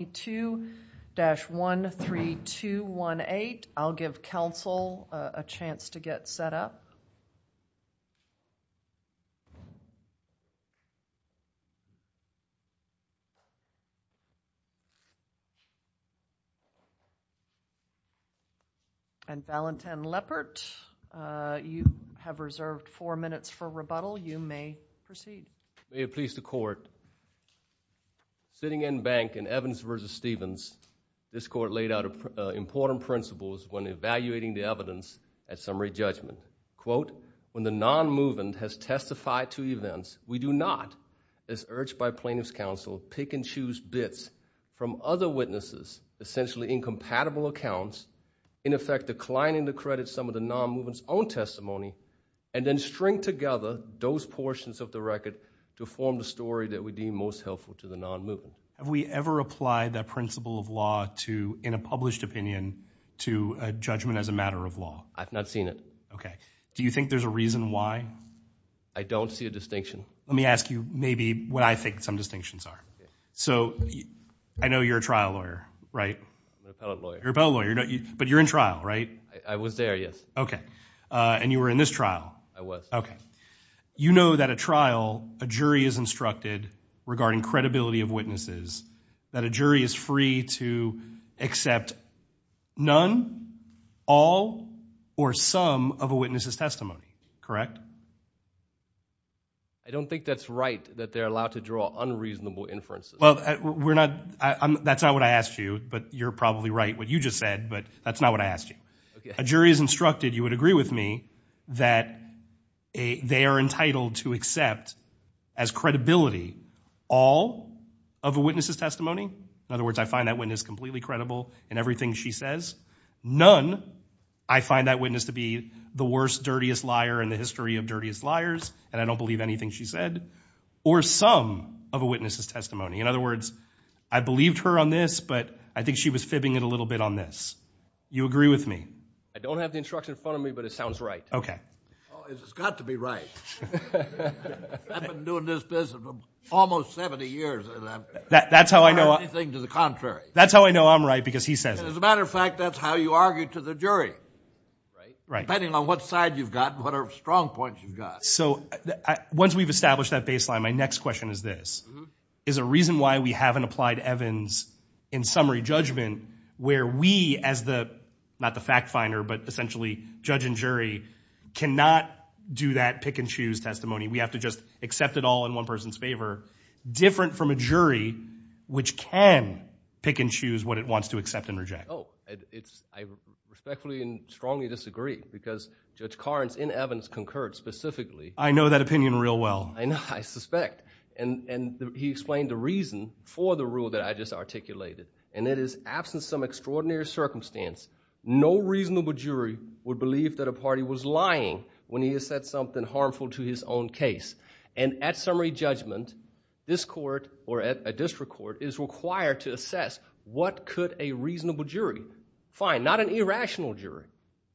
I'll give counsel a chance to get set up. And Ballantyne Leppert, you have reserved four minutes for rebuttal. You may proceed. May it please the court, sitting in bank in Evans v. Stevens, this court laid out important principles when evaluating the evidence at summary judgment. Quote, when the non-movement has testified to events, we do not, as urged by plaintiff's counsel, pick and choose bits from other witnesses, essentially incompatible accounts, in effect declining to credit some of the non-movement's own testimony, and then string together those to form the story that we deem most helpful to the non-movement. Have we ever applied that principle of law to, in a published opinion, to a judgment as a matter of law? I've not seen it. Okay. Do you think there's a reason why? I don't see a distinction. Let me ask you maybe what I think some distinctions are. So I know you're a trial lawyer, right? I'm an appellate lawyer. You're an appellate lawyer, but you're in trial, right? I was there, yes. Okay. And you were in this trial? I was. Okay. You know that a trial, a jury is instructed regarding credibility of witnesses, that a jury is free to accept none, all, or some of a witness's testimony, correct? I don't think that's right, that they're allowed to draw unreasonable inferences. Well, we're not, that's not what I asked you, but you're probably right what you just said, but that's not what I asked you. A jury is instructed, you would agree with me, that they are entitled to accept as credibility all of a witness's testimony, in other words, I find that witness completely credible in everything she says, none, I find that witness to be the worst, dirtiest liar in the history of dirtiest liars, and I don't believe anything she said, or some of a witness's testimony. In other words, I believed her on this, but I think she was fibbing it a little bit on this. You agree with me? I don't have the instruction in front of me, but it sounds right. Okay. Oh, it's got to be right. I've been doing this business for almost 70 years, and I've never heard anything to the contrary. That's how I know I'm right, because he says it. As a matter of fact, that's how you argue to the jury, depending on what side you've got and what strong points you've got. So once we've established that baseline, my next question is this, is a reason why we as the, not the fact finder, but essentially judge and jury, cannot do that pick and choose testimony. We have to just accept it all in one person's favor, different from a jury, which can pick and choose what it wants to accept and reject. Oh, it's, I respectfully and strongly disagree, because Judge Karnes in evidence concurred specifically. I know that opinion real well. I know, I suspect, and he explained the reason for the rule that I just articulated, and it is, absent some extraordinary circumstance, no reasonable jury would believe that a party was lying when he has said something harmful to his own case. And at summary judgment, this court, or a district court, is required to assess what could a reasonable jury find, not an irrational jury,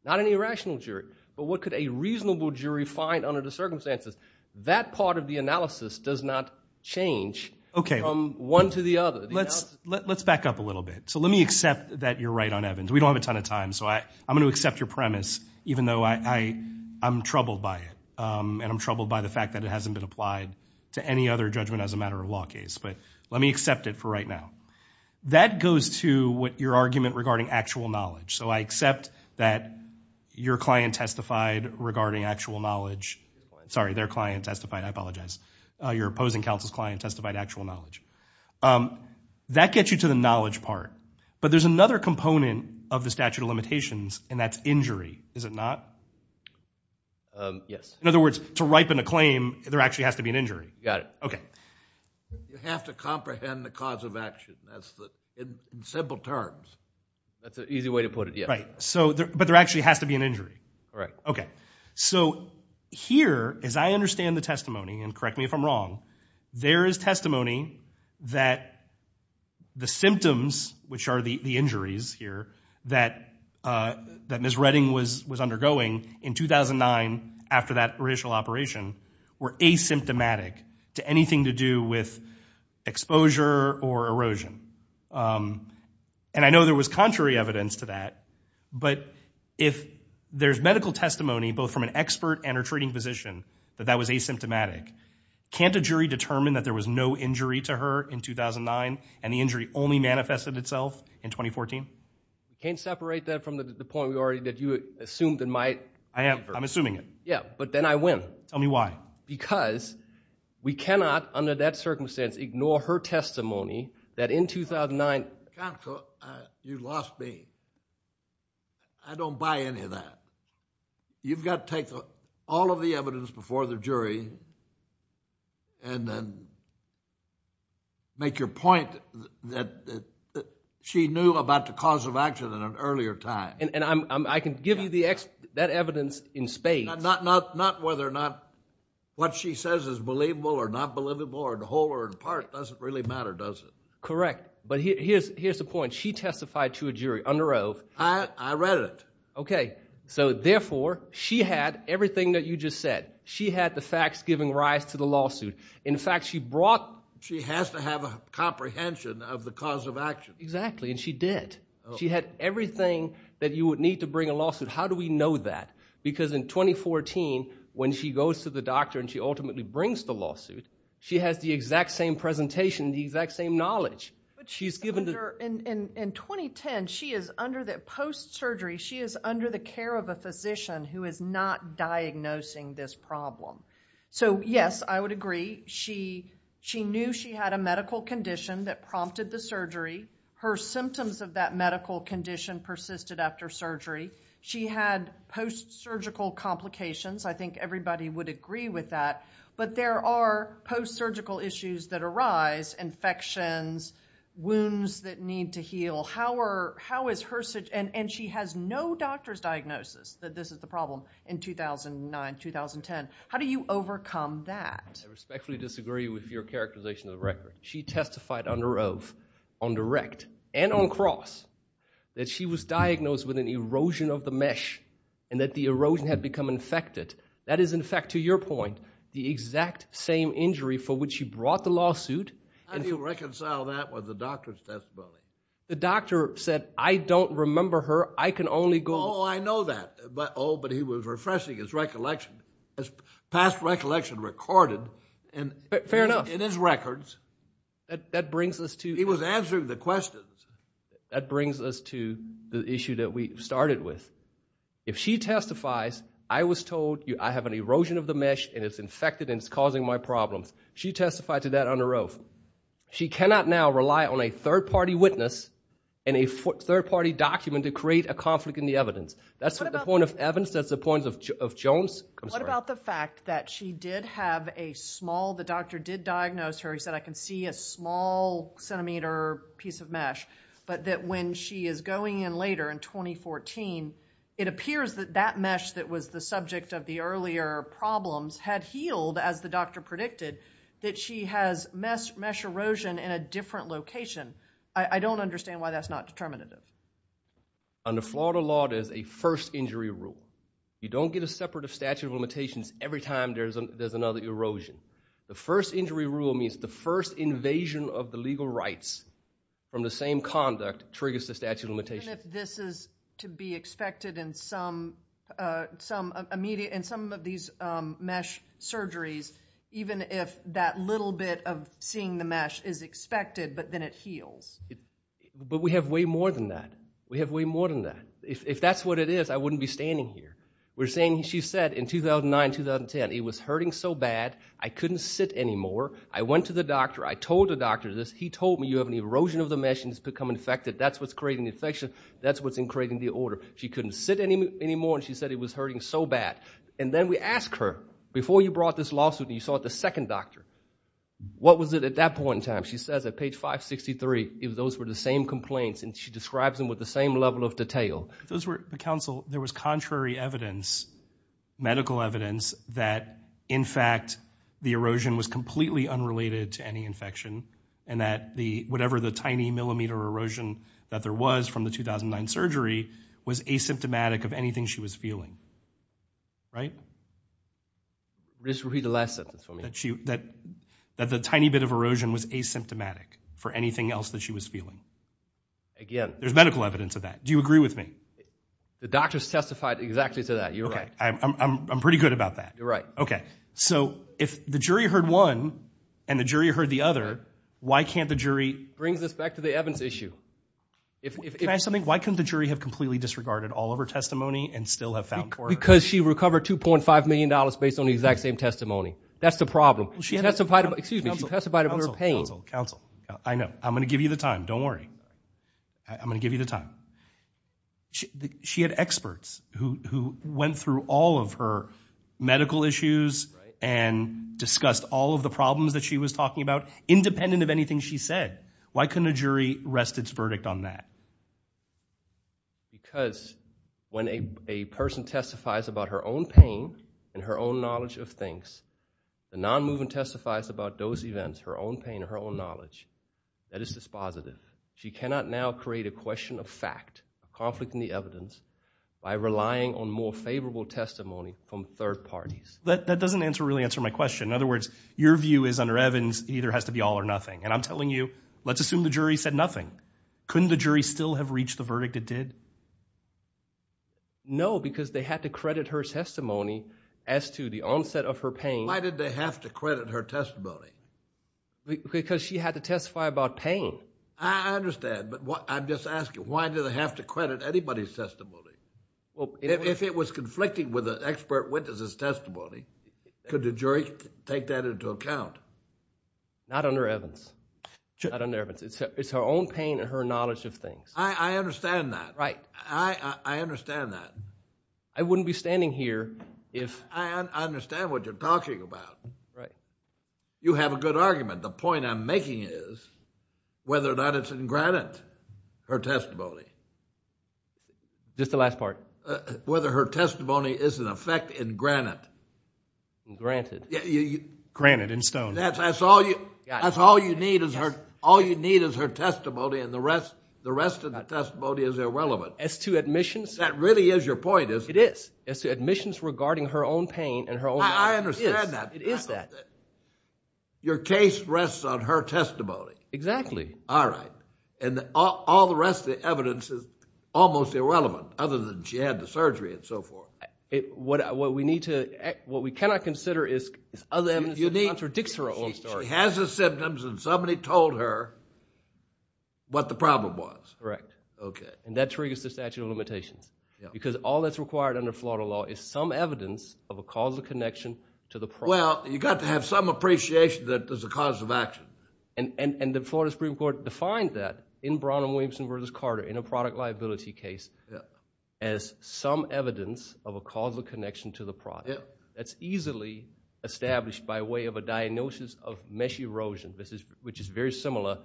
not an irrational jury, but what could a reasonable jury find under the circumstances. That part of the analysis does not change from one to the other. Let's back up a little bit. So let me accept that you're right on Evans. We don't have a ton of time, so I'm going to accept your premise, even though I'm troubled by it. And I'm troubled by the fact that it hasn't been applied to any other judgment as a matter of law case. But let me accept it for right now. That goes to what your argument regarding actual knowledge. So I accept that your client testified regarding actual knowledge, sorry, their client testified, I apologize. Your opposing counsel's client testified actual knowledge. That gets you to the knowledge part. But there's another component of the statute of limitations, and that's injury, is it not? Yes. In other words, to ripen a claim, there actually has to be an injury. Got it. Okay. You have to comprehend the cause of action. That's the, in simple terms, that's an easy way to put it, yeah. Right. But there actually has to be an injury. Right. Okay. So here, as I understand the testimony, and correct me if I'm wrong, there is testimony that the symptoms, which are the injuries here, that Ms. Redding was undergoing in 2009 after that original operation were asymptomatic to anything to do with exposure or erosion. And I know there was contrary evidence to that. But if there's medical testimony, both from an expert and her treating physician, that that was asymptomatic, can't a jury determine that there was no injury to her in 2009, and the injury only manifested itself in 2014? Can't separate that from the point we already did. You assumed it might. I am. I'm assuming it. Yeah. But then I win. Tell me why. Because we cannot, under that circumstance, ignore her testimony that in 2009- John Cook, you lost me. I don't buy any of that. You've got to take all of the evidence before the jury and then make your point that she knew about the cause of action at an earlier time. And I can give you that evidence in spades. Not whether or not what she says is believable or not believable or whole or in part doesn't really matter, does it? Correct. But here's the point. She testified to a jury under oath. I read it. Okay. So therefore, she had everything that you just said. She had the facts giving rise to the lawsuit. In fact, she brought- She has to have a comprehension of the cause of action. Exactly. And she did. She had everything that you would need to bring a lawsuit. How do we know that? Because in 2014, when she goes to the doctor and she ultimately brings the lawsuit, she has the exact same presentation, the exact same knowledge. She's given- In 2010, she is under the post-surgery, she is under the care of a physician who is not diagnosing this problem. So yes, I would agree. She knew she had a medical condition that prompted the surgery. Her symptoms of that medical condition persisted after surgery. She had post-surgical complications. I think everybody would agree with that. But there are post-surgical issues that arise, infections, wounds that need to heal. How is her- And she has no doctor's diagnosis that this is the problem in 2009, 2010. How do you overcome that? I respectfully disagree with your characterization of the record. She testified under oath, on direct and on cross, that she was diagnosed with an erosion of the mesh and that the erosion had become infected. That is, in fact, to your point, the exact same injury for which you brought the lawsuit. How do you reconcile that with the doctor's testimony? The doctor said, I don't remember her. I can only go- Oh, I know that. Oh, but he was refreshing his recollection, his past recollection recorded in his records. That brings us to- He was answering the questions. That brings us to the issue that we started with. If she testifies, I was told I have an erosion of the mesh and it's infected and it's causing my problems. She testified to that under oath. She cannot now rely on a third-party witness and a third-party document to create a conflict in the evidence. That's the point of Evans. That's the point of Jones. I'm sorry. What about the fact that she did have a small, the doctor did diagnose her, he said, I can see a small centimeter piece of mesh, but that when she is going in later in 2014, it appears that that mesh that was the subject of the earlier problems had healed, as the doctor predicted, that she has mesh erosion in a different location. I don't understand why that's not determinative. Under Florida law, there's a first injury rule. You don't get a separate statute of limitations every time there's another erosion. The first injury rule means the first invasion of the legal rights from the same conduct triggers the statute of limitations. Even if this is to be expected in some of these mesh surgeries, even if that little bit of seeing the mesh is expected, but then it heals. But we have way more than that. We have way more than that. If that's what it is, I wouldn't be standing here. We're saying, she said in 2009, 2010, it was hurting so bad, I couldn't sit anymore. I went to the doctor. I told the doctor this. He told me you have an erosion of the mesh and it's become infected. That's what's creating the infection. That's what's creating the order. She couldn't sit anymore and she said it was hurting so bad. And then we ask her, before you brought this lawsuit and you saw it, the second doctor, what was it at that point in time? She says at page 563, those were the same complaints and she describes them with the same level of detail. Those were, the counsel, there was contrary evidence, medical evidence, that in fact the erosion was completely unrelated to any infection and that the, whatever the tiny millimeter erosion that there was from the 2009 surgery was asymptomatic of anything she was feeling. Right? Just repeat the last sentence for me. That the tiny bit of erosion was asymptomatic for anything else that she was feeling. Again. There's medical evidence of that. Do you agree with me? The doctors testified exactly to that. You're right. Okay. I'm pretty good about that. You're right. Okay. So if the jury heard one and the jury heard the other, why can't the jury- Brings us back to the Evans issue. If- Can I ask something? Why couldn't the jury have completely disregarded all of her testimony and still have found for her? Because she recovered $2.5 million based on the exact same testimony. That's the problem. She testified about, excuse me, she testified about her pain. Counsel, counsel, counsel. I know. I'm going to give you the time. Don't worry. I'm going to give you the time. She had experts who went through all of her medical issues and discussed all of the problems that she was talking about, independent of anything she said. Why couldn't a jury rest its verdict on that? Because when a person testifies about her own pain and her own knowledge of things, the non-movement testifies about those events, her own pain and her own knowledge. That is dispositive. She cannot now create a question of fact, a conflict in the evidence, by relying on more favorable testimony from third parties. That doesn't answer, really answer my question. In other words, your view is under Evans, it either has to be all or nothing. And I'm telling you, let's assume the jury said nothing. Couldn't the jury still have reached the verdict it did? No, because they had to credit her testimony as to the onset of her pain. Why did they have to credit her testimony? Because she had to testify about pain. I understand, but I'm just asking, why did they have to credit anybody's testimony? If it was conflicting with the expert witness' testimony, could the jury take that into account? Not under Evans. Not under Evans. It's her own pain and her knowledge of things. I understand that. I understand that. I wouldn't be standing here if... I understand what you're talking about. You have a good argument. The point I'm making is, whether or not it's in granite, her testimony. Just the last part. Whether her testimony is in effect in granite. In granite. Granite, in stone. That's all you need is her testimony and the rest of the testimony is irrelevant. As to admissions... That really is your point, is it? It is. As to admissions regarding her own pain and her own... I understand that. It is that. Your case rests on her testimony. Exactly. All right. All the rest of the evidence is almost irrelevant, other than she had the surgery and so forth. What we need to... What we cannot consider is other evidence that contradicts her own story. She has the symptoms and somebody told her what the problem was. Correct. Okay. That triggers the statute of limitations. Because all that's required under Florida law is some evidence of a causal connection to the problem. Well, you've got to have some appreciation that there's a cause of action. The Florida Supreme Court defined that in Brown and Williamson v. Carter in a product liability case as some evidence of a causal connection to the product. That's easily established by way of a diagnosis of mesh erosion, which is very similar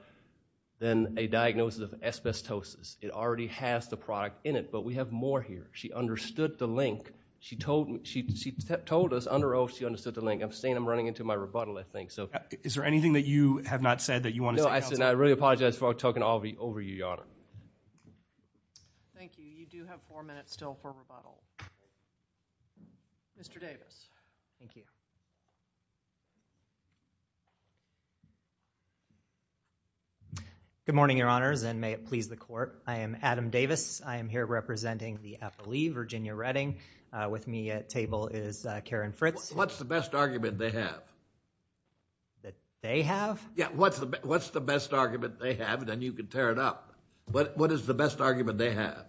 than a diagnosis of asbestosis. It already has the product in it, but we have more here. She understood the link. She told us under oath she understood the link. I'm saying I'm running into my rebuttal, I think. Is there anything that you have not said that you want to say? No, I said I really apologize for talking over you, Your Honor. Thank you. You do have four minutes still for rebuttal. Mr. Davis. Thank you. Good morning, Your Honors, and may it please the Court. I am Adam Davis. I am here representing the Appellee, Virginia Redding. With me at table is Karen Fritz. What's the best argument they have? That they have? Yeah, what's the best argument they have? Then you can tear it up. What is the best argument they have?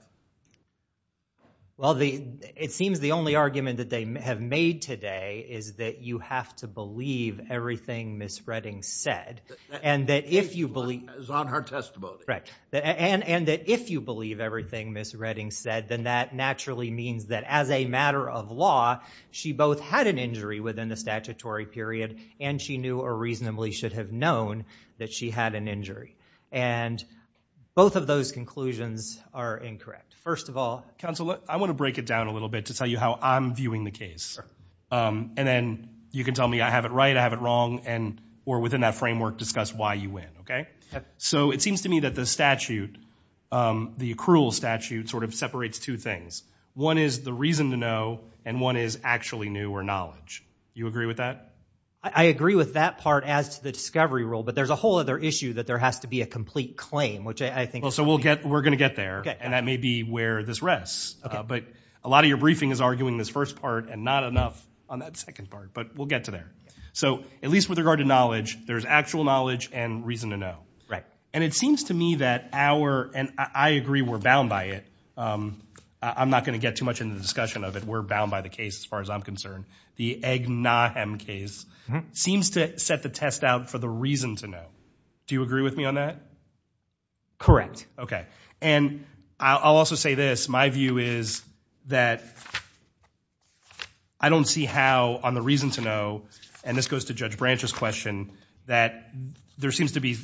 Well, it seems the only argument that they have made today is that you have to believe everything Ms. Redding said. And that if you believe... It's on her testimony. And that if you believe everything Ms. Redding said, then that naturally means that as a matter of law, she both had an injury within the statutory period, and she knew or reasonably should have known that she had an injury. And both of those conclusions are incorrect. First of all... Counsel, I want to break it down a little bit to tell you how I'm viewing the case. And then you can tell me I have it right, I have it wrong, or within that framework, discuss why you win, okay? So it seems to me that the statute, the accrual statute, sort of separates two things. One is the reason to know, and one is actually new or knowledge. You agree with that? I agree with that part as to the discovery rule, but there's a whole other issue that there has to be a complete claim, which I think... So we're going to get there, and that may be where this rests. But a lot of your briefing is arguing this first part, and not enough on that second part. But we'll get to there. So at least with regard to knowledge, there's actual knowledge and reason to know. Right. And it seems to me that our... And I agree we're bound by it. I'm not going to get too much into the discussion of it. We're bound by the case, as far as I'm concerned. The Egg Nahem case seems to set the test out for the reason to know. Do you agree with me on that? Correct. Okay. And I'll also say this. My view is that I don't see how, on the reason to know, and this goes to Judge Branch's question, that there seems to be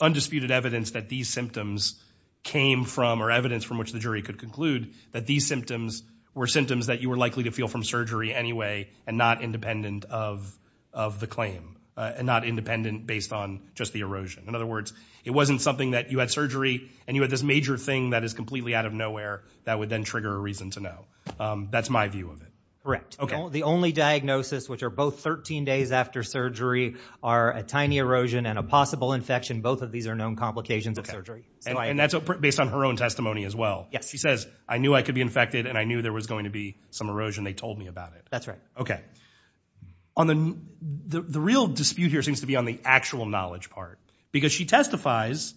undisputed evidence that these symptoms came from, or evidence from which the jury could conclude, that these symptoms were symptoms that you were likely to feel from surgery anyway and not independent of the claim, and not independent based on just the erosion. In other words, it wasn't something that you had surgery and you had this major thing that is completely out of nowhere that would then trigger a reason to know. That's my view of it. Correct. The only diagnosis, which are both 13 days after surgery, are a tiny erosion and a possible infection. Both of these are known complications of surgery. Okay. And that's based on her own testimony as well. Yes. She says, I knew I could be infected and I knew there was going to be some erosion. They told me about it. That's right. Okay. The real dispute here seems to be on the actual knowledge part because she testifies,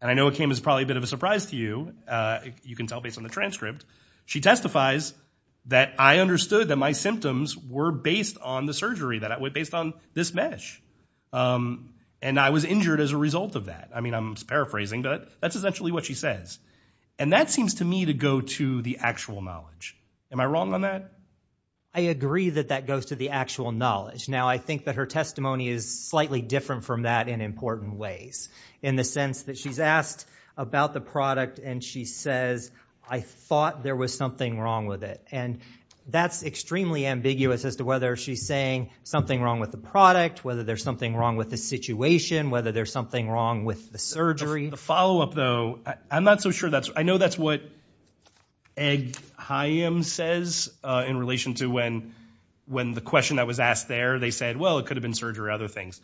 and I know it came as probably a bit of a surprise to you, you can tell based on the transcript, she testifies that I understood that my symptoms were based on the surgery, that it was based on this mesh. And I was injured as a result of that. I mean, I'm paraphrasing, but that's essentially what she says. And that seems to me to go to the actual knowledge. Am I wrong on that? I agree that that goes to the actual knowledge. Now, I think that her testimony is slightly different from that in important ways in the sense that she's asked about the product and she says, I thought there was something wrong with it. And that's extremely ambiguous as to whether she's saying something wrong with the product, whether there's something wrong with the situation, whether there's something wrong with the surgery. The follow-up, though, I'm not so sure that's... I know that's what Eghayem says in relation to when the question that was asked there, they said, well, it could have been surgery or other things.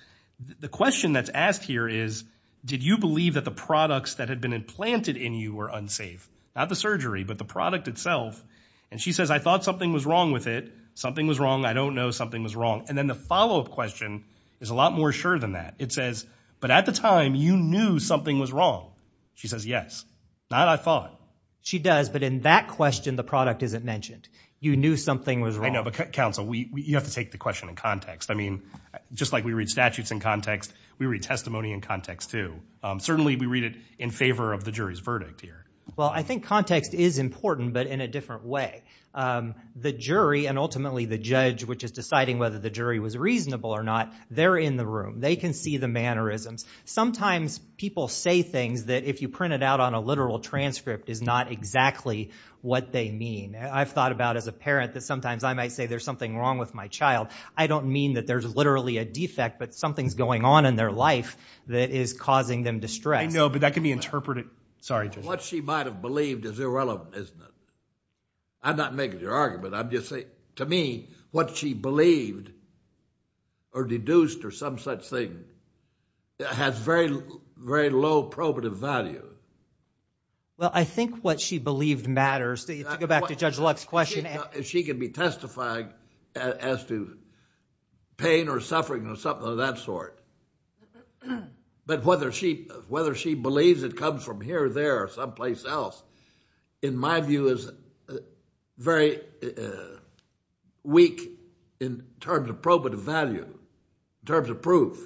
The question that's asked here is, did you believe that the products that had been implanted in you were unsafe? Not the surgery, but the product itself. And she says, I thought something was wrong with it. Something was wrong. I don't know something was wrong. And then the follow-up question is a lot more sure than that. It says, but at the time, you knew something was wrong. She says, yes. Not I thought. She does, but in that question, the product isn't mentioned. You knew something was wrong. I know, but counsel, you have to take the question in context. I mean, just like we read statutes in context, we read testimony in context, too. Certainly, we read it in favor of the jury's verdict here. Well, I think context is important, but in a different way. The jury and ultimately the judge, which is deciding whether the jury was reasonable or not, they're in the room. They can see the mannerisms. Sometimes people say things that if you print it out on a literal transcript is not exactly what they mean. I've thought about as a parent that sometimes I might say there's something wrong with my child. I don't mean that there's literally a defect, but something's going on in their life that is causing them distress. I know, but that can be interpreted. Sorry, Judge. What she might have believed is irrelevant, isn't it? I'm not making your argument. I'm just saying, to me, what she believed or deduced or some such thing has very low probative value. Well, I think what she believed matters. To go back to Judge Luck's question... She can be testifying as to pain or suffering or something of that sort, but whether she believes it comes from here or there or someplace else, in my view, is very weak in terms of probative value, in terms of proof.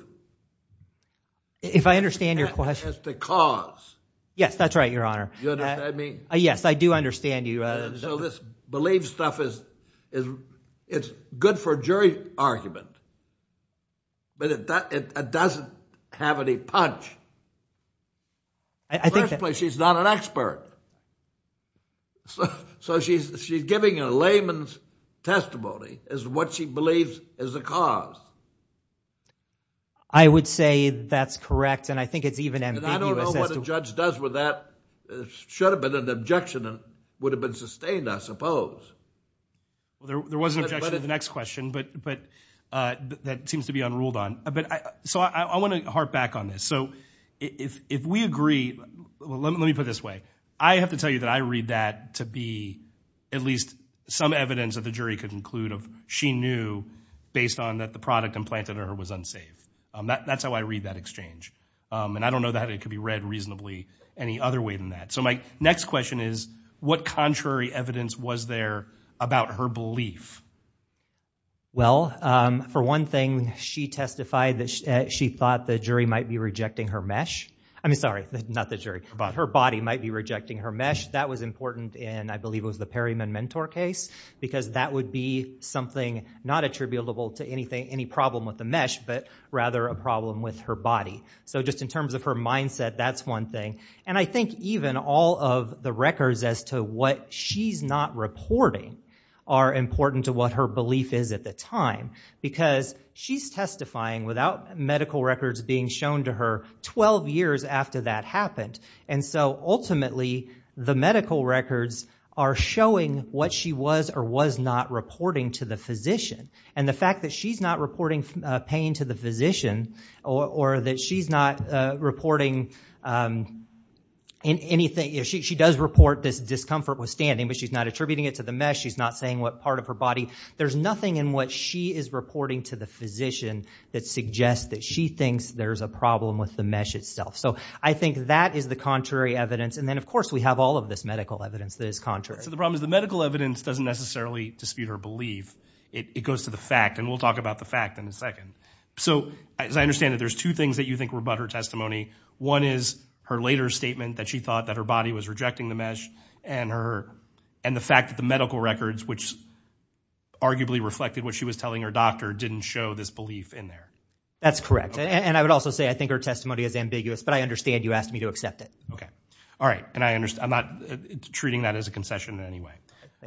If I understand your question... As to cause. Yes, that's right, Your Honor. Do you understand what I mean? Yes, I do understand you. So this belief stuff is good for jury argument, but it doesn't have any punch. First place, she's not an expert. So she's giving a layman's testimony as to what she believes is the cause. I would say that's correct, and I think it's even ambiguous. And I don't know what a judge does with that. It should have been an objection and would have been sustained, I suppose. Well, there was an objection to the next question, but that seems to be unruled on. So I want to harp back on this. So if we agree... Let me put it this way. I have to tell you that I read that to be at least some evidence that the jury could conclude of she knew, based on that the product implanted in her was unsafe. That's how I read that exchange. And I don't know that it could be read reasonably any other way than that. So my next question is, what contrary evidence was there about her belief? Well, for one thing, she testified that she thought the jury might be rejecting her mesh. I mean, sorry, not the jury, but her body might be rejecting her mesh. That was important in, I believe, it was the Perryman-Mentor case, because that would be something not attributable to any problem with the mesh, but rather a problem with her body. So just in terms of her mindset, that's one thing. And I think even all of the records as to what she's not reporting are important to what her belief is at the time, because she's testifying without medical records being shown to her 12 years after that happened. And so ultimately, the medical records are showing what she was or was not reporting to the physician. And the fact that she's not reporting pain to the physician, or that she's not reporting anything, she does report this discomfort withstanding, but she's not attributing it to the mesh, she's not saying what part of her body, there's nothing in what she is reporting to the physician that suggests that she thinks there's a problem with the mesh itself. So I think that is the contrary evidence, and then of course we have all of this medical evidence that is contrary. So the problem is the medical evidence doesn't necessarily dispute her belief. It goes to the fact, and we'll talk about the fact in a second. So as I understand it, there's two things that you think were about her testimony. One is her later statement that she thought that her body was rejecting the mesh, and the fact that the medical records, which arguably reflected what she was telling her doctor, didn't show this belief in there. That's correct. And I would also say I think her testimony is ambiguous, but I understand you asked me to accept it. Okay. All right. And I'm not treating that as a concession in any way.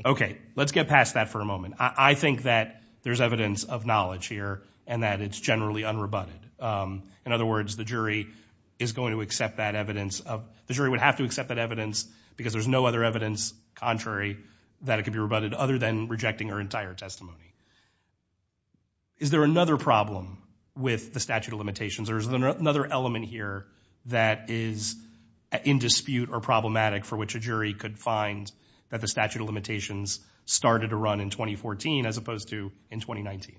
Okay. Let's get past that for a moment. I think that there's evidence of knowledge here, and that it's generally unrebutted. In other words, the jury is going to accept that evidence. The jury would have to accept that evidence because there's no other evidence contrary that it could be rebutted other than rejecting her entire testimony. Is there another problem with the statute of limitations, or is there another element here that is in dispute or problematic for which a jury could find that the statute of limitations started to run in 2014 as opposed to in 2019?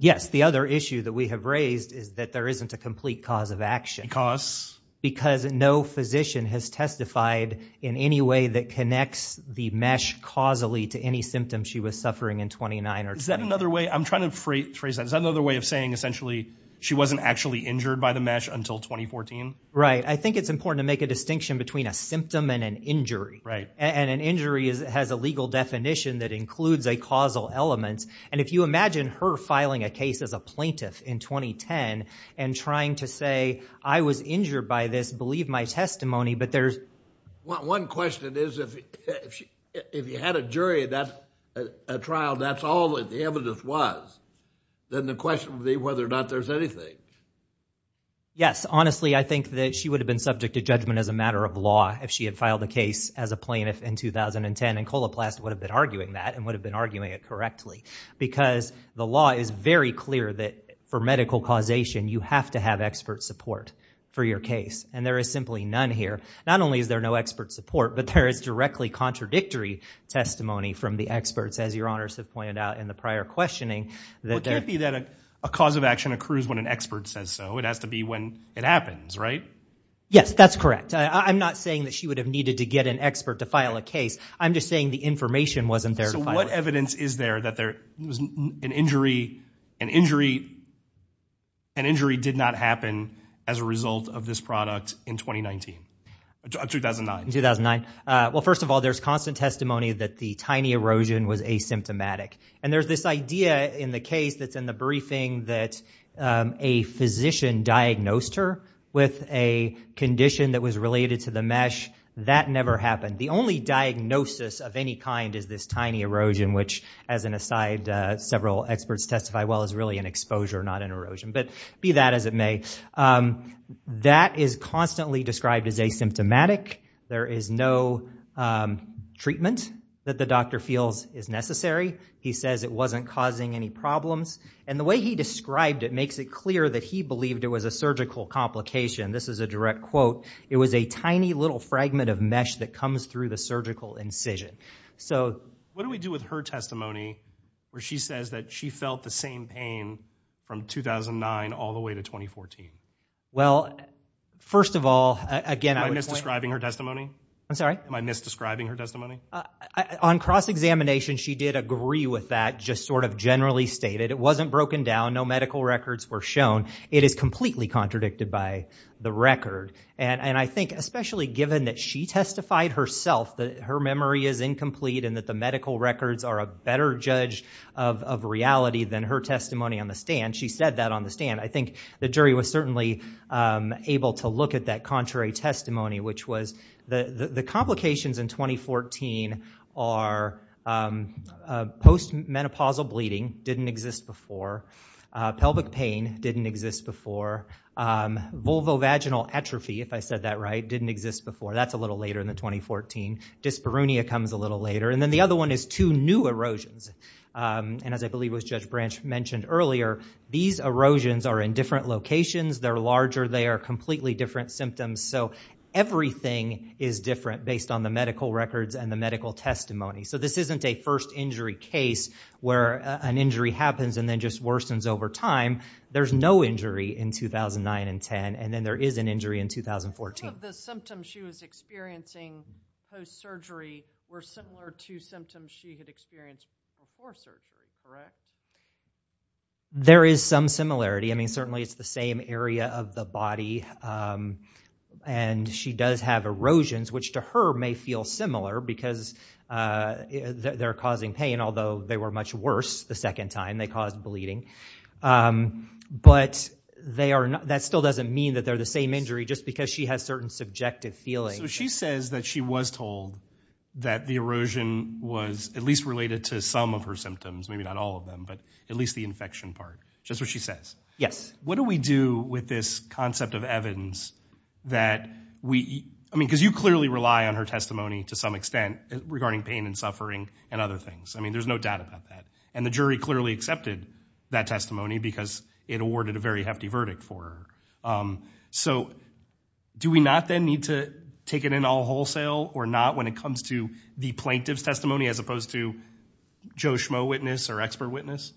Yes. The other issue that we have raised is that there isn't a complete cause of action. Because? Because no physician has testified in any way that connects the MeSH causally to any symptom she was suffering in 2009 or 2010. Is that another way? I'm trying to phrase that. Is that another way of saying, essentially, she wasn't actually injured by the MeSH until 2014? Right. I think it's important to make a distinction between a symptom and an injury. Right. And an injury has a legal definition that includes a causal element. And if you imagine her filing a case as a plaintiff in 2010 and trying to say, I was injured by this. Believe my testimony. But there's- One question is, if you had a jury at a trial, that's all that the evidence was. Then the question would be whether or not there's anything. Yes. Honestly, I think that she would have been subject to judgment as a matter of law if she had filed a case as a plaintiff in 2010. And Coloplast would have been arguing that and would have been arguing it correctly. Because the law is very clear that for medical causation, you have to have expert support for your case. And there is simply none here. Not only is there no expert support, but there is directly contradictory testimony from the experts, as your honors have pointed out in the prior questioning. Well, it can't be that a cause of action accrues when an expert says so. It has to be when it happens, right? Yes. That's correct. I'm not saying that she would have needed to get an expert to file a case. I'm just saying the information wasn't there. So what evidence is there that an injury did not happen as a result of this product in 2019? 2009. 2009. Well, first of all, there's constant testimony that the tiny erosion was asymptomatic. And there's this idea in the case that's in the briefing that a physician diagnosed her with a condition that was related to the mesh. That never happened. The only diagnosis of any kind is this tiny erosion, which, as an aside, several experts testify, well, is really an exposure, not an erosion. But be that as it may, that is constantly described as asymptomatic. There is no treatment that the doctor feels is necessary. He says it wasn't causing any problems. And the way he described it makes it clear that he believed it was a surgical complication. This is a direct quote. It was a tiny little fragment of mesh that comes through the surgical incision. So what do we do with her testimony where she says that she felt the same pain from 2009 all the way to 2014? Well, first of all, again, I would point out. Am I misdescribing her testimony? I'm sorry? Am I misdescribing her testimony? On cross-examination, she did agree with that, just sort of generally stated. It wasn't broken down. No medical records were shown. It is completely contradicted by the record. And I think, especially given that she testified herself that her memory is incomplete and that the medical records are a better judge of reality than her testimony on the stand, she said that on the stand, I think the jury was certainly able to look at that contrary testimony, which was the complications in 2014 are post-menopausal bleeding didn't exist before. Pelvic pain didn't exist before. Vulvovaginal atrophy, if I said that right, didn't exist before. That's a little later than 2014. Dyspareunia comes a little later. And then the other one is two new erosions. And as I believe was Judge Branch mentioned earlier, these erosions are in different locations. They're larger. They are completely different symptoms. So everything is different based on the medical records and the medical testimony. So this isn't a first injury case where an injury happens and then just worsens over time. There's no injury in 2009 and 2010. And then there is an injury in 2014. Some of the symptoms she was experiencing post-surgery were similar to symptoms she had experienced before surgery, correct? There is some similarity. I mean, certainly it's the same area of the body. And she does have erosions, which to her may feel similar because they're causing pain, although they were much worse the second time. They caused bleeding. But that still doesn't mean that they're the same injury just because she has certain subjective feelings. So she says that she was told that the erosion was at least related to some of her symptoms, maybe not all of them. But at least the infection part, which is what she says. Yes. What do we do with this concept of Evans that we, I mean, because you clearly rely on her testimony to some extent regarding pain and suffering and other things. I mean, there's no doubt about that. And the jury clearly accepted that testimony because it awarded a very hefty verdict for her. So do we not then need to take it in all wholesale or not when it comes to the plaintiff's testimony as opposed to Joe Schmoe witness or expert witness?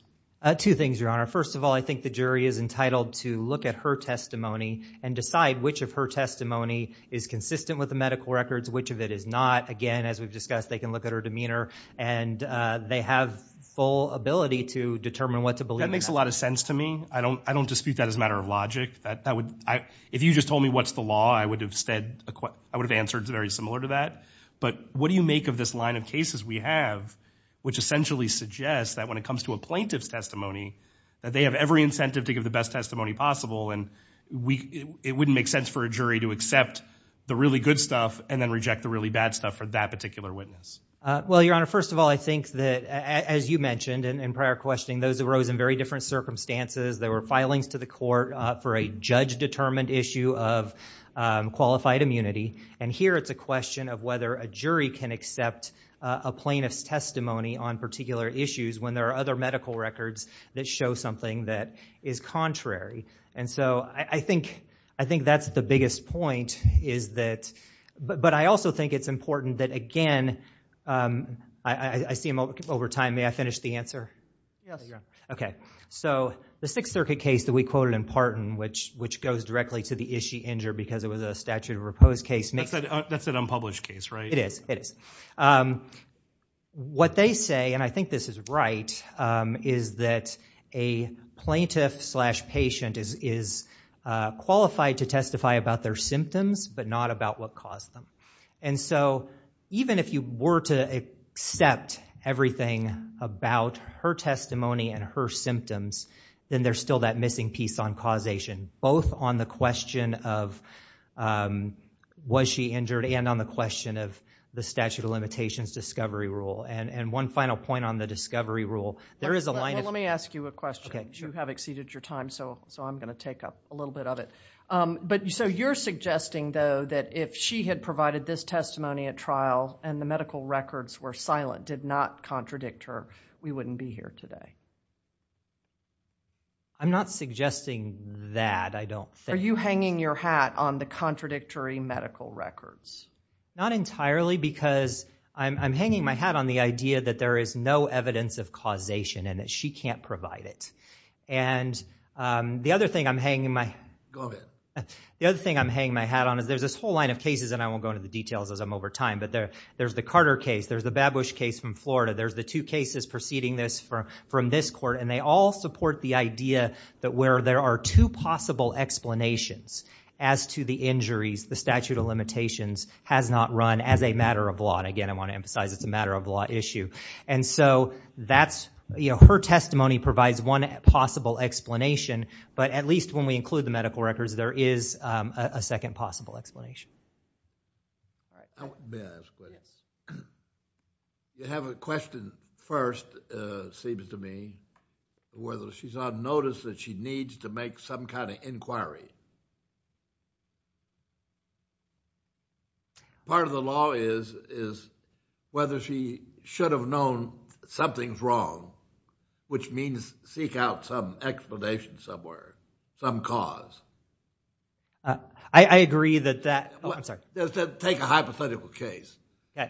Two things, Your Honor. First of all, I think the jury is entitled to look at her testimony and decide which of her testimony is consistent with the medical records, which of it is not. Again, as we've discussed, they can look at her demeanor. And they have full ability to determine what to believe in that. That makes a lot of sense to me. I don't dispute that as a matter of logic. If you just told me what's the law, I would have answered very similar to that. But what do you make of this line of cases we have which essentially suggests that when it comes to a plaintiff's testimony, that they have every incentive to give the best testimony possible. And it wouldn't make sense for a jury to accept the really good stuff and then reject the really bad stuff for that particular witness. Well, Your Honor, first of all, I think that as you mentioned in prior questioning, those arose in very different circumstances. There were filings to the court for a judge-determined issue of qualified immunity. And here it's a question of whether a jury can accept a plaintiff's testimony on particular issues when there are other medical records that show something that is contrary. And so I think that's the biggest point is that, but I also think it's important that again, I see him over time, may I finish the answer? Yes. Okay, so the Sixth Circuit case that we quoted in Parton, which goes directly to the is she injured because it was a statute of repose case. That's an unpublished case, right? It is, it is. What they say, and I think this is right, is that a plaintiff slash patient is qualified to testify about their symptoms, but not about what caused them. And so even if you were to accept everything about her testimony and her symptoms, then there's still that missing piece on causation, both on the question of was she injured and on the question of the statute of limitations discovery rule. And one final point on the discovery rule, there is a line of. Let me ask you a question. You have exceeded your time, so I'm gonna take up a little bit of it. But so you're suggesting though that if she had provided this testimony at trial and the medical records were silent, did not contradict her, we wouldn't be here today. I'm not suggesting that, I don't think. Are you hanging your hat on the contradictory medical records? Not entirely, because I'm hanging my hat on the idea that there is no evidence of causation and that she can't provide it. And the other thing I'm hanging my. Go ahead. The other thing I'm hanging my hat on is there's this whole line of cases, and I won't go into the details as I'm over time, but there's the Carter case, there's the Babush case from Florida, there's the two cases preceding this from this court, and they all support the idea that where there are two possible explanations as to the injuries, the statute of limitations has not run as a matter of law. And again, I want to emphasize it's a matter of law issue. And so that's, her testimony provides one possible explanation, but at least when we include the medical records, there is a second possible explanation. May I ask a question? Yes. You have a question first, seems to me, whether she's on notice that she needs to make some kind of inquiry. Part of the law is whether she should have known something's wrong, which means seek out some explanation somewhere, some cause. I agree that that, oh, I'm sorry. Take a hypothetical case. Yeah.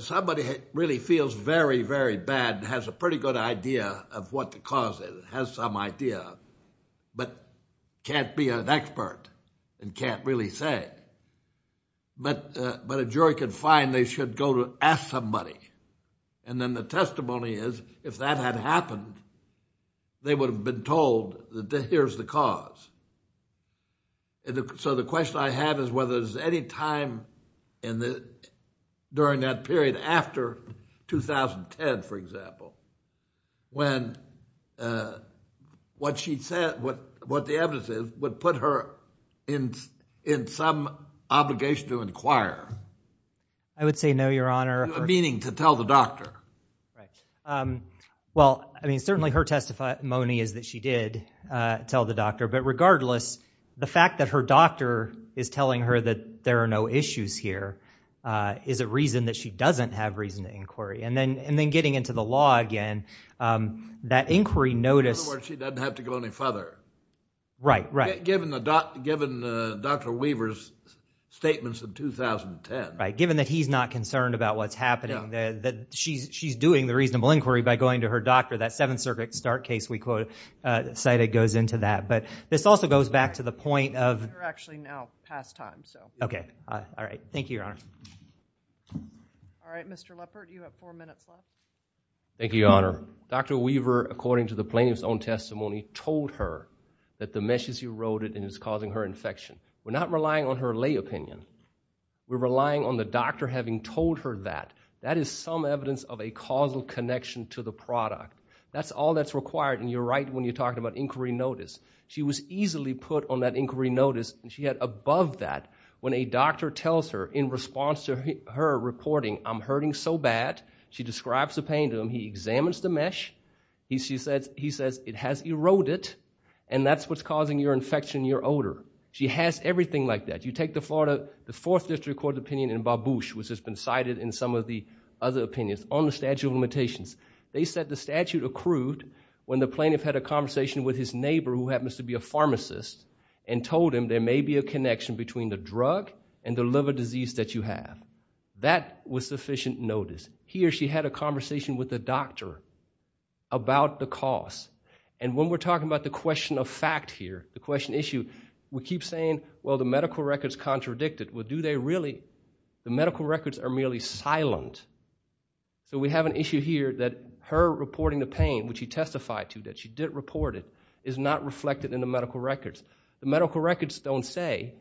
Somebody really feels very, very bad and has a pretty good idea of what the cause is, has some idea, but can't be an expert and can't really say. But a jury can find they should go to ask somebody. And then the testimony is, if that had happened, they would have been told that here's the cause. So the question I have is whether there's any time in the, during that period after 2010, for example, when what she said, what the evidence is, would put her in some obligation to inquire. I would say no, Your Honor. Meaning to tell the doctor. Right. Well, I mean, certainly her testimony is that she did tell the doctor, but regardless, the fact that her doctor is telling her that there are no issues here is a reason that she doesn't have reason to inquiry. And then getting into the law again, that inquiry notice. In other words, she doesn't have to go any further. Right, right. Given Dr. Weaver's statements of 2010. Right, given that he's not concerned about what's happening. She's doing the reasonable inquiry by going to her doctor. That Seventh Circuit start case we cited goes into that. But this also goes back to the point of. We're actually now past time, so. Okay, all right. Thank you, Your Honor. All right, Mr. Leppert, you have four minutes left. Thank you, Your Honor. Dr. Weaver, according to the plaintiff's own testimony, told her that the mesh is eroded and is causing her infection. We're not relying on her lay opinion. We're relying on the doctor having told her that. That is some evidence of a causal connection to the product. That's all that's required, and you're right when you're talking about inquiry notice. She was easily put on that inquiry notice, and she had above that when a doctor tells her in response to her reporting, I'm hurting so bad. She describes the pain to him. He examines the mesh. He says, it has eroded, and that's what's causing your infection, your odor. She has everything like that. You take the Fourth District Court opinion in Barbush, which has been cited in some of the other opinions on the statute of limitations. They said the statute accrued when the plaintiff had a conversation with his neighbor who happens to be a pharmacist and told him there may be a connection between the drug and the liver disease that you have. That was sufficient notice. He or she had a conversation with the doctor about the cause, and when we're talking about the question of fact here, the question issue, we keep saying, well, the medical record's contradicted. Well, do they really? The medical records are merely silent. So we have an issue here that her reporting the pain, which she testified to that she did report it, is not reflected in the medical records. The medical records don't say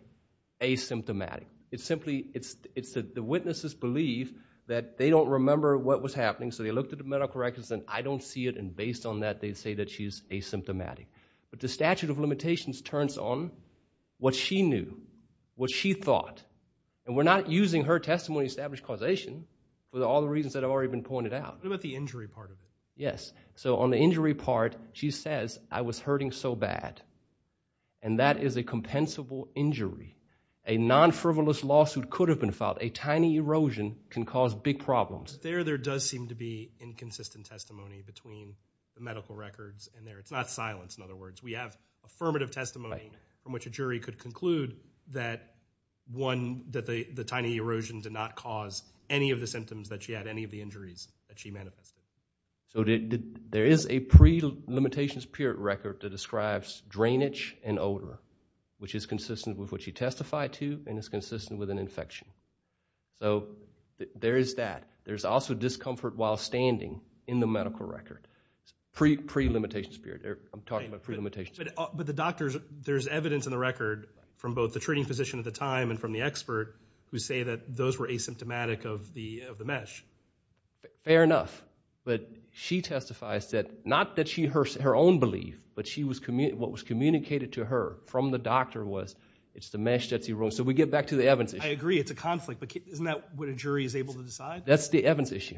asymptomatic. It's simply, it's that the witnesses believe that they don't remember what was happening, so they looked at the medical records, and I don't see it, and based on that, they say that she's asymptomatic. But the statute of limitations turns on what she knew, what she thought, and we're not using her testimony to establish causation with all the reasons that have already been pointed out. What about the injury part of it? Yes, so on the injury part, she says, I was hurting so bad, and that is a compensable injury. A non-frivolous lawsuit could have been filed. A tiny erosion can cause big problems. There, there does seem to be inconsistent testimony between the medical records and there. It's not silence, in other words. We have affirmative testimony from which a jury could conclude that one, that the tiny erosion did not cause any of the symptoms that she had, any of the injuries that she manifested. So, there is a pre-limitations period record that describes drainage and odor, which is consistent with what she testified to, and it's consistent with an infection. So, there is that. There's also discomfort while standing in the medical record, pre-limitations period. I'm talking about pre-limitations period. But the doctors, there's evidence in the record from both the treating physician at the time and from the expert who say that those were asymptomatic of the mesh. Fair enough, but she testifies that, not that she, her own belief, but she was, what was communicated to her from the doctor was it's the mesh that's eroded. So, we get back to the Evans issue. I agree, it's a conflict, but isn't that what a jury is able to decide? That's the Evans issue.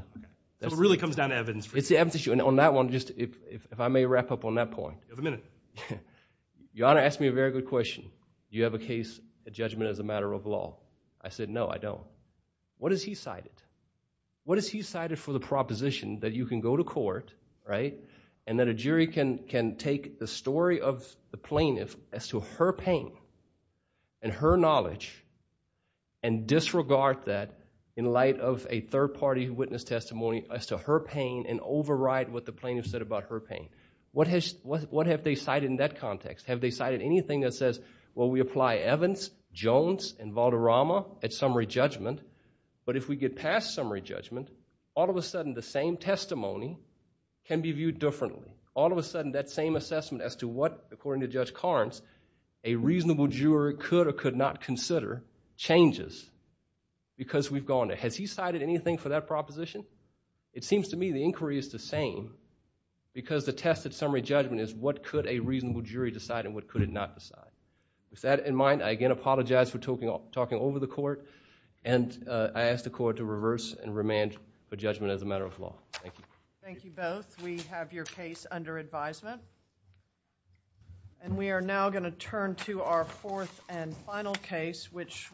So, it really comes down to evidence. It's the Evans issue, and on that one, just if I may wrap up on that point. You have a minute. Your Honor asked me a very good question. Do you have a case, a judgment as a matter of law? I said, no, I don't. What has he cited? What has he cited for the proposition that you can go to court, right, and that a jury can take the story of the plaintiff as to her pain and her knowledge and disregard that in light of a third-party witness testimony as to her pain and override what the plaintiff said about her pain? What have they cited in that context? Have they cited anything that says, well, we apply Evans, Jones, and Valderrama at summary judgment, but if we get past summary judgment, all of a sudden, the same testimony can be viewed differently. All of a sudden, that same assessment as to what, according to Judge Carnes, a reasonable jury could or could not consider changes because we've gone there. Has he cited anything for that proposition? It seems to me the inquiry is the same because the test at summary judgment is what could a reasonable jury decide and what could it not decide. With that in mind, I again apologize for talking over the court, and I ask the court to reverse and remand for judgment as a matter of law. Thank you. Thank you both. We have your case under advisement. And we are now gonna turn to our fourth and final case, which.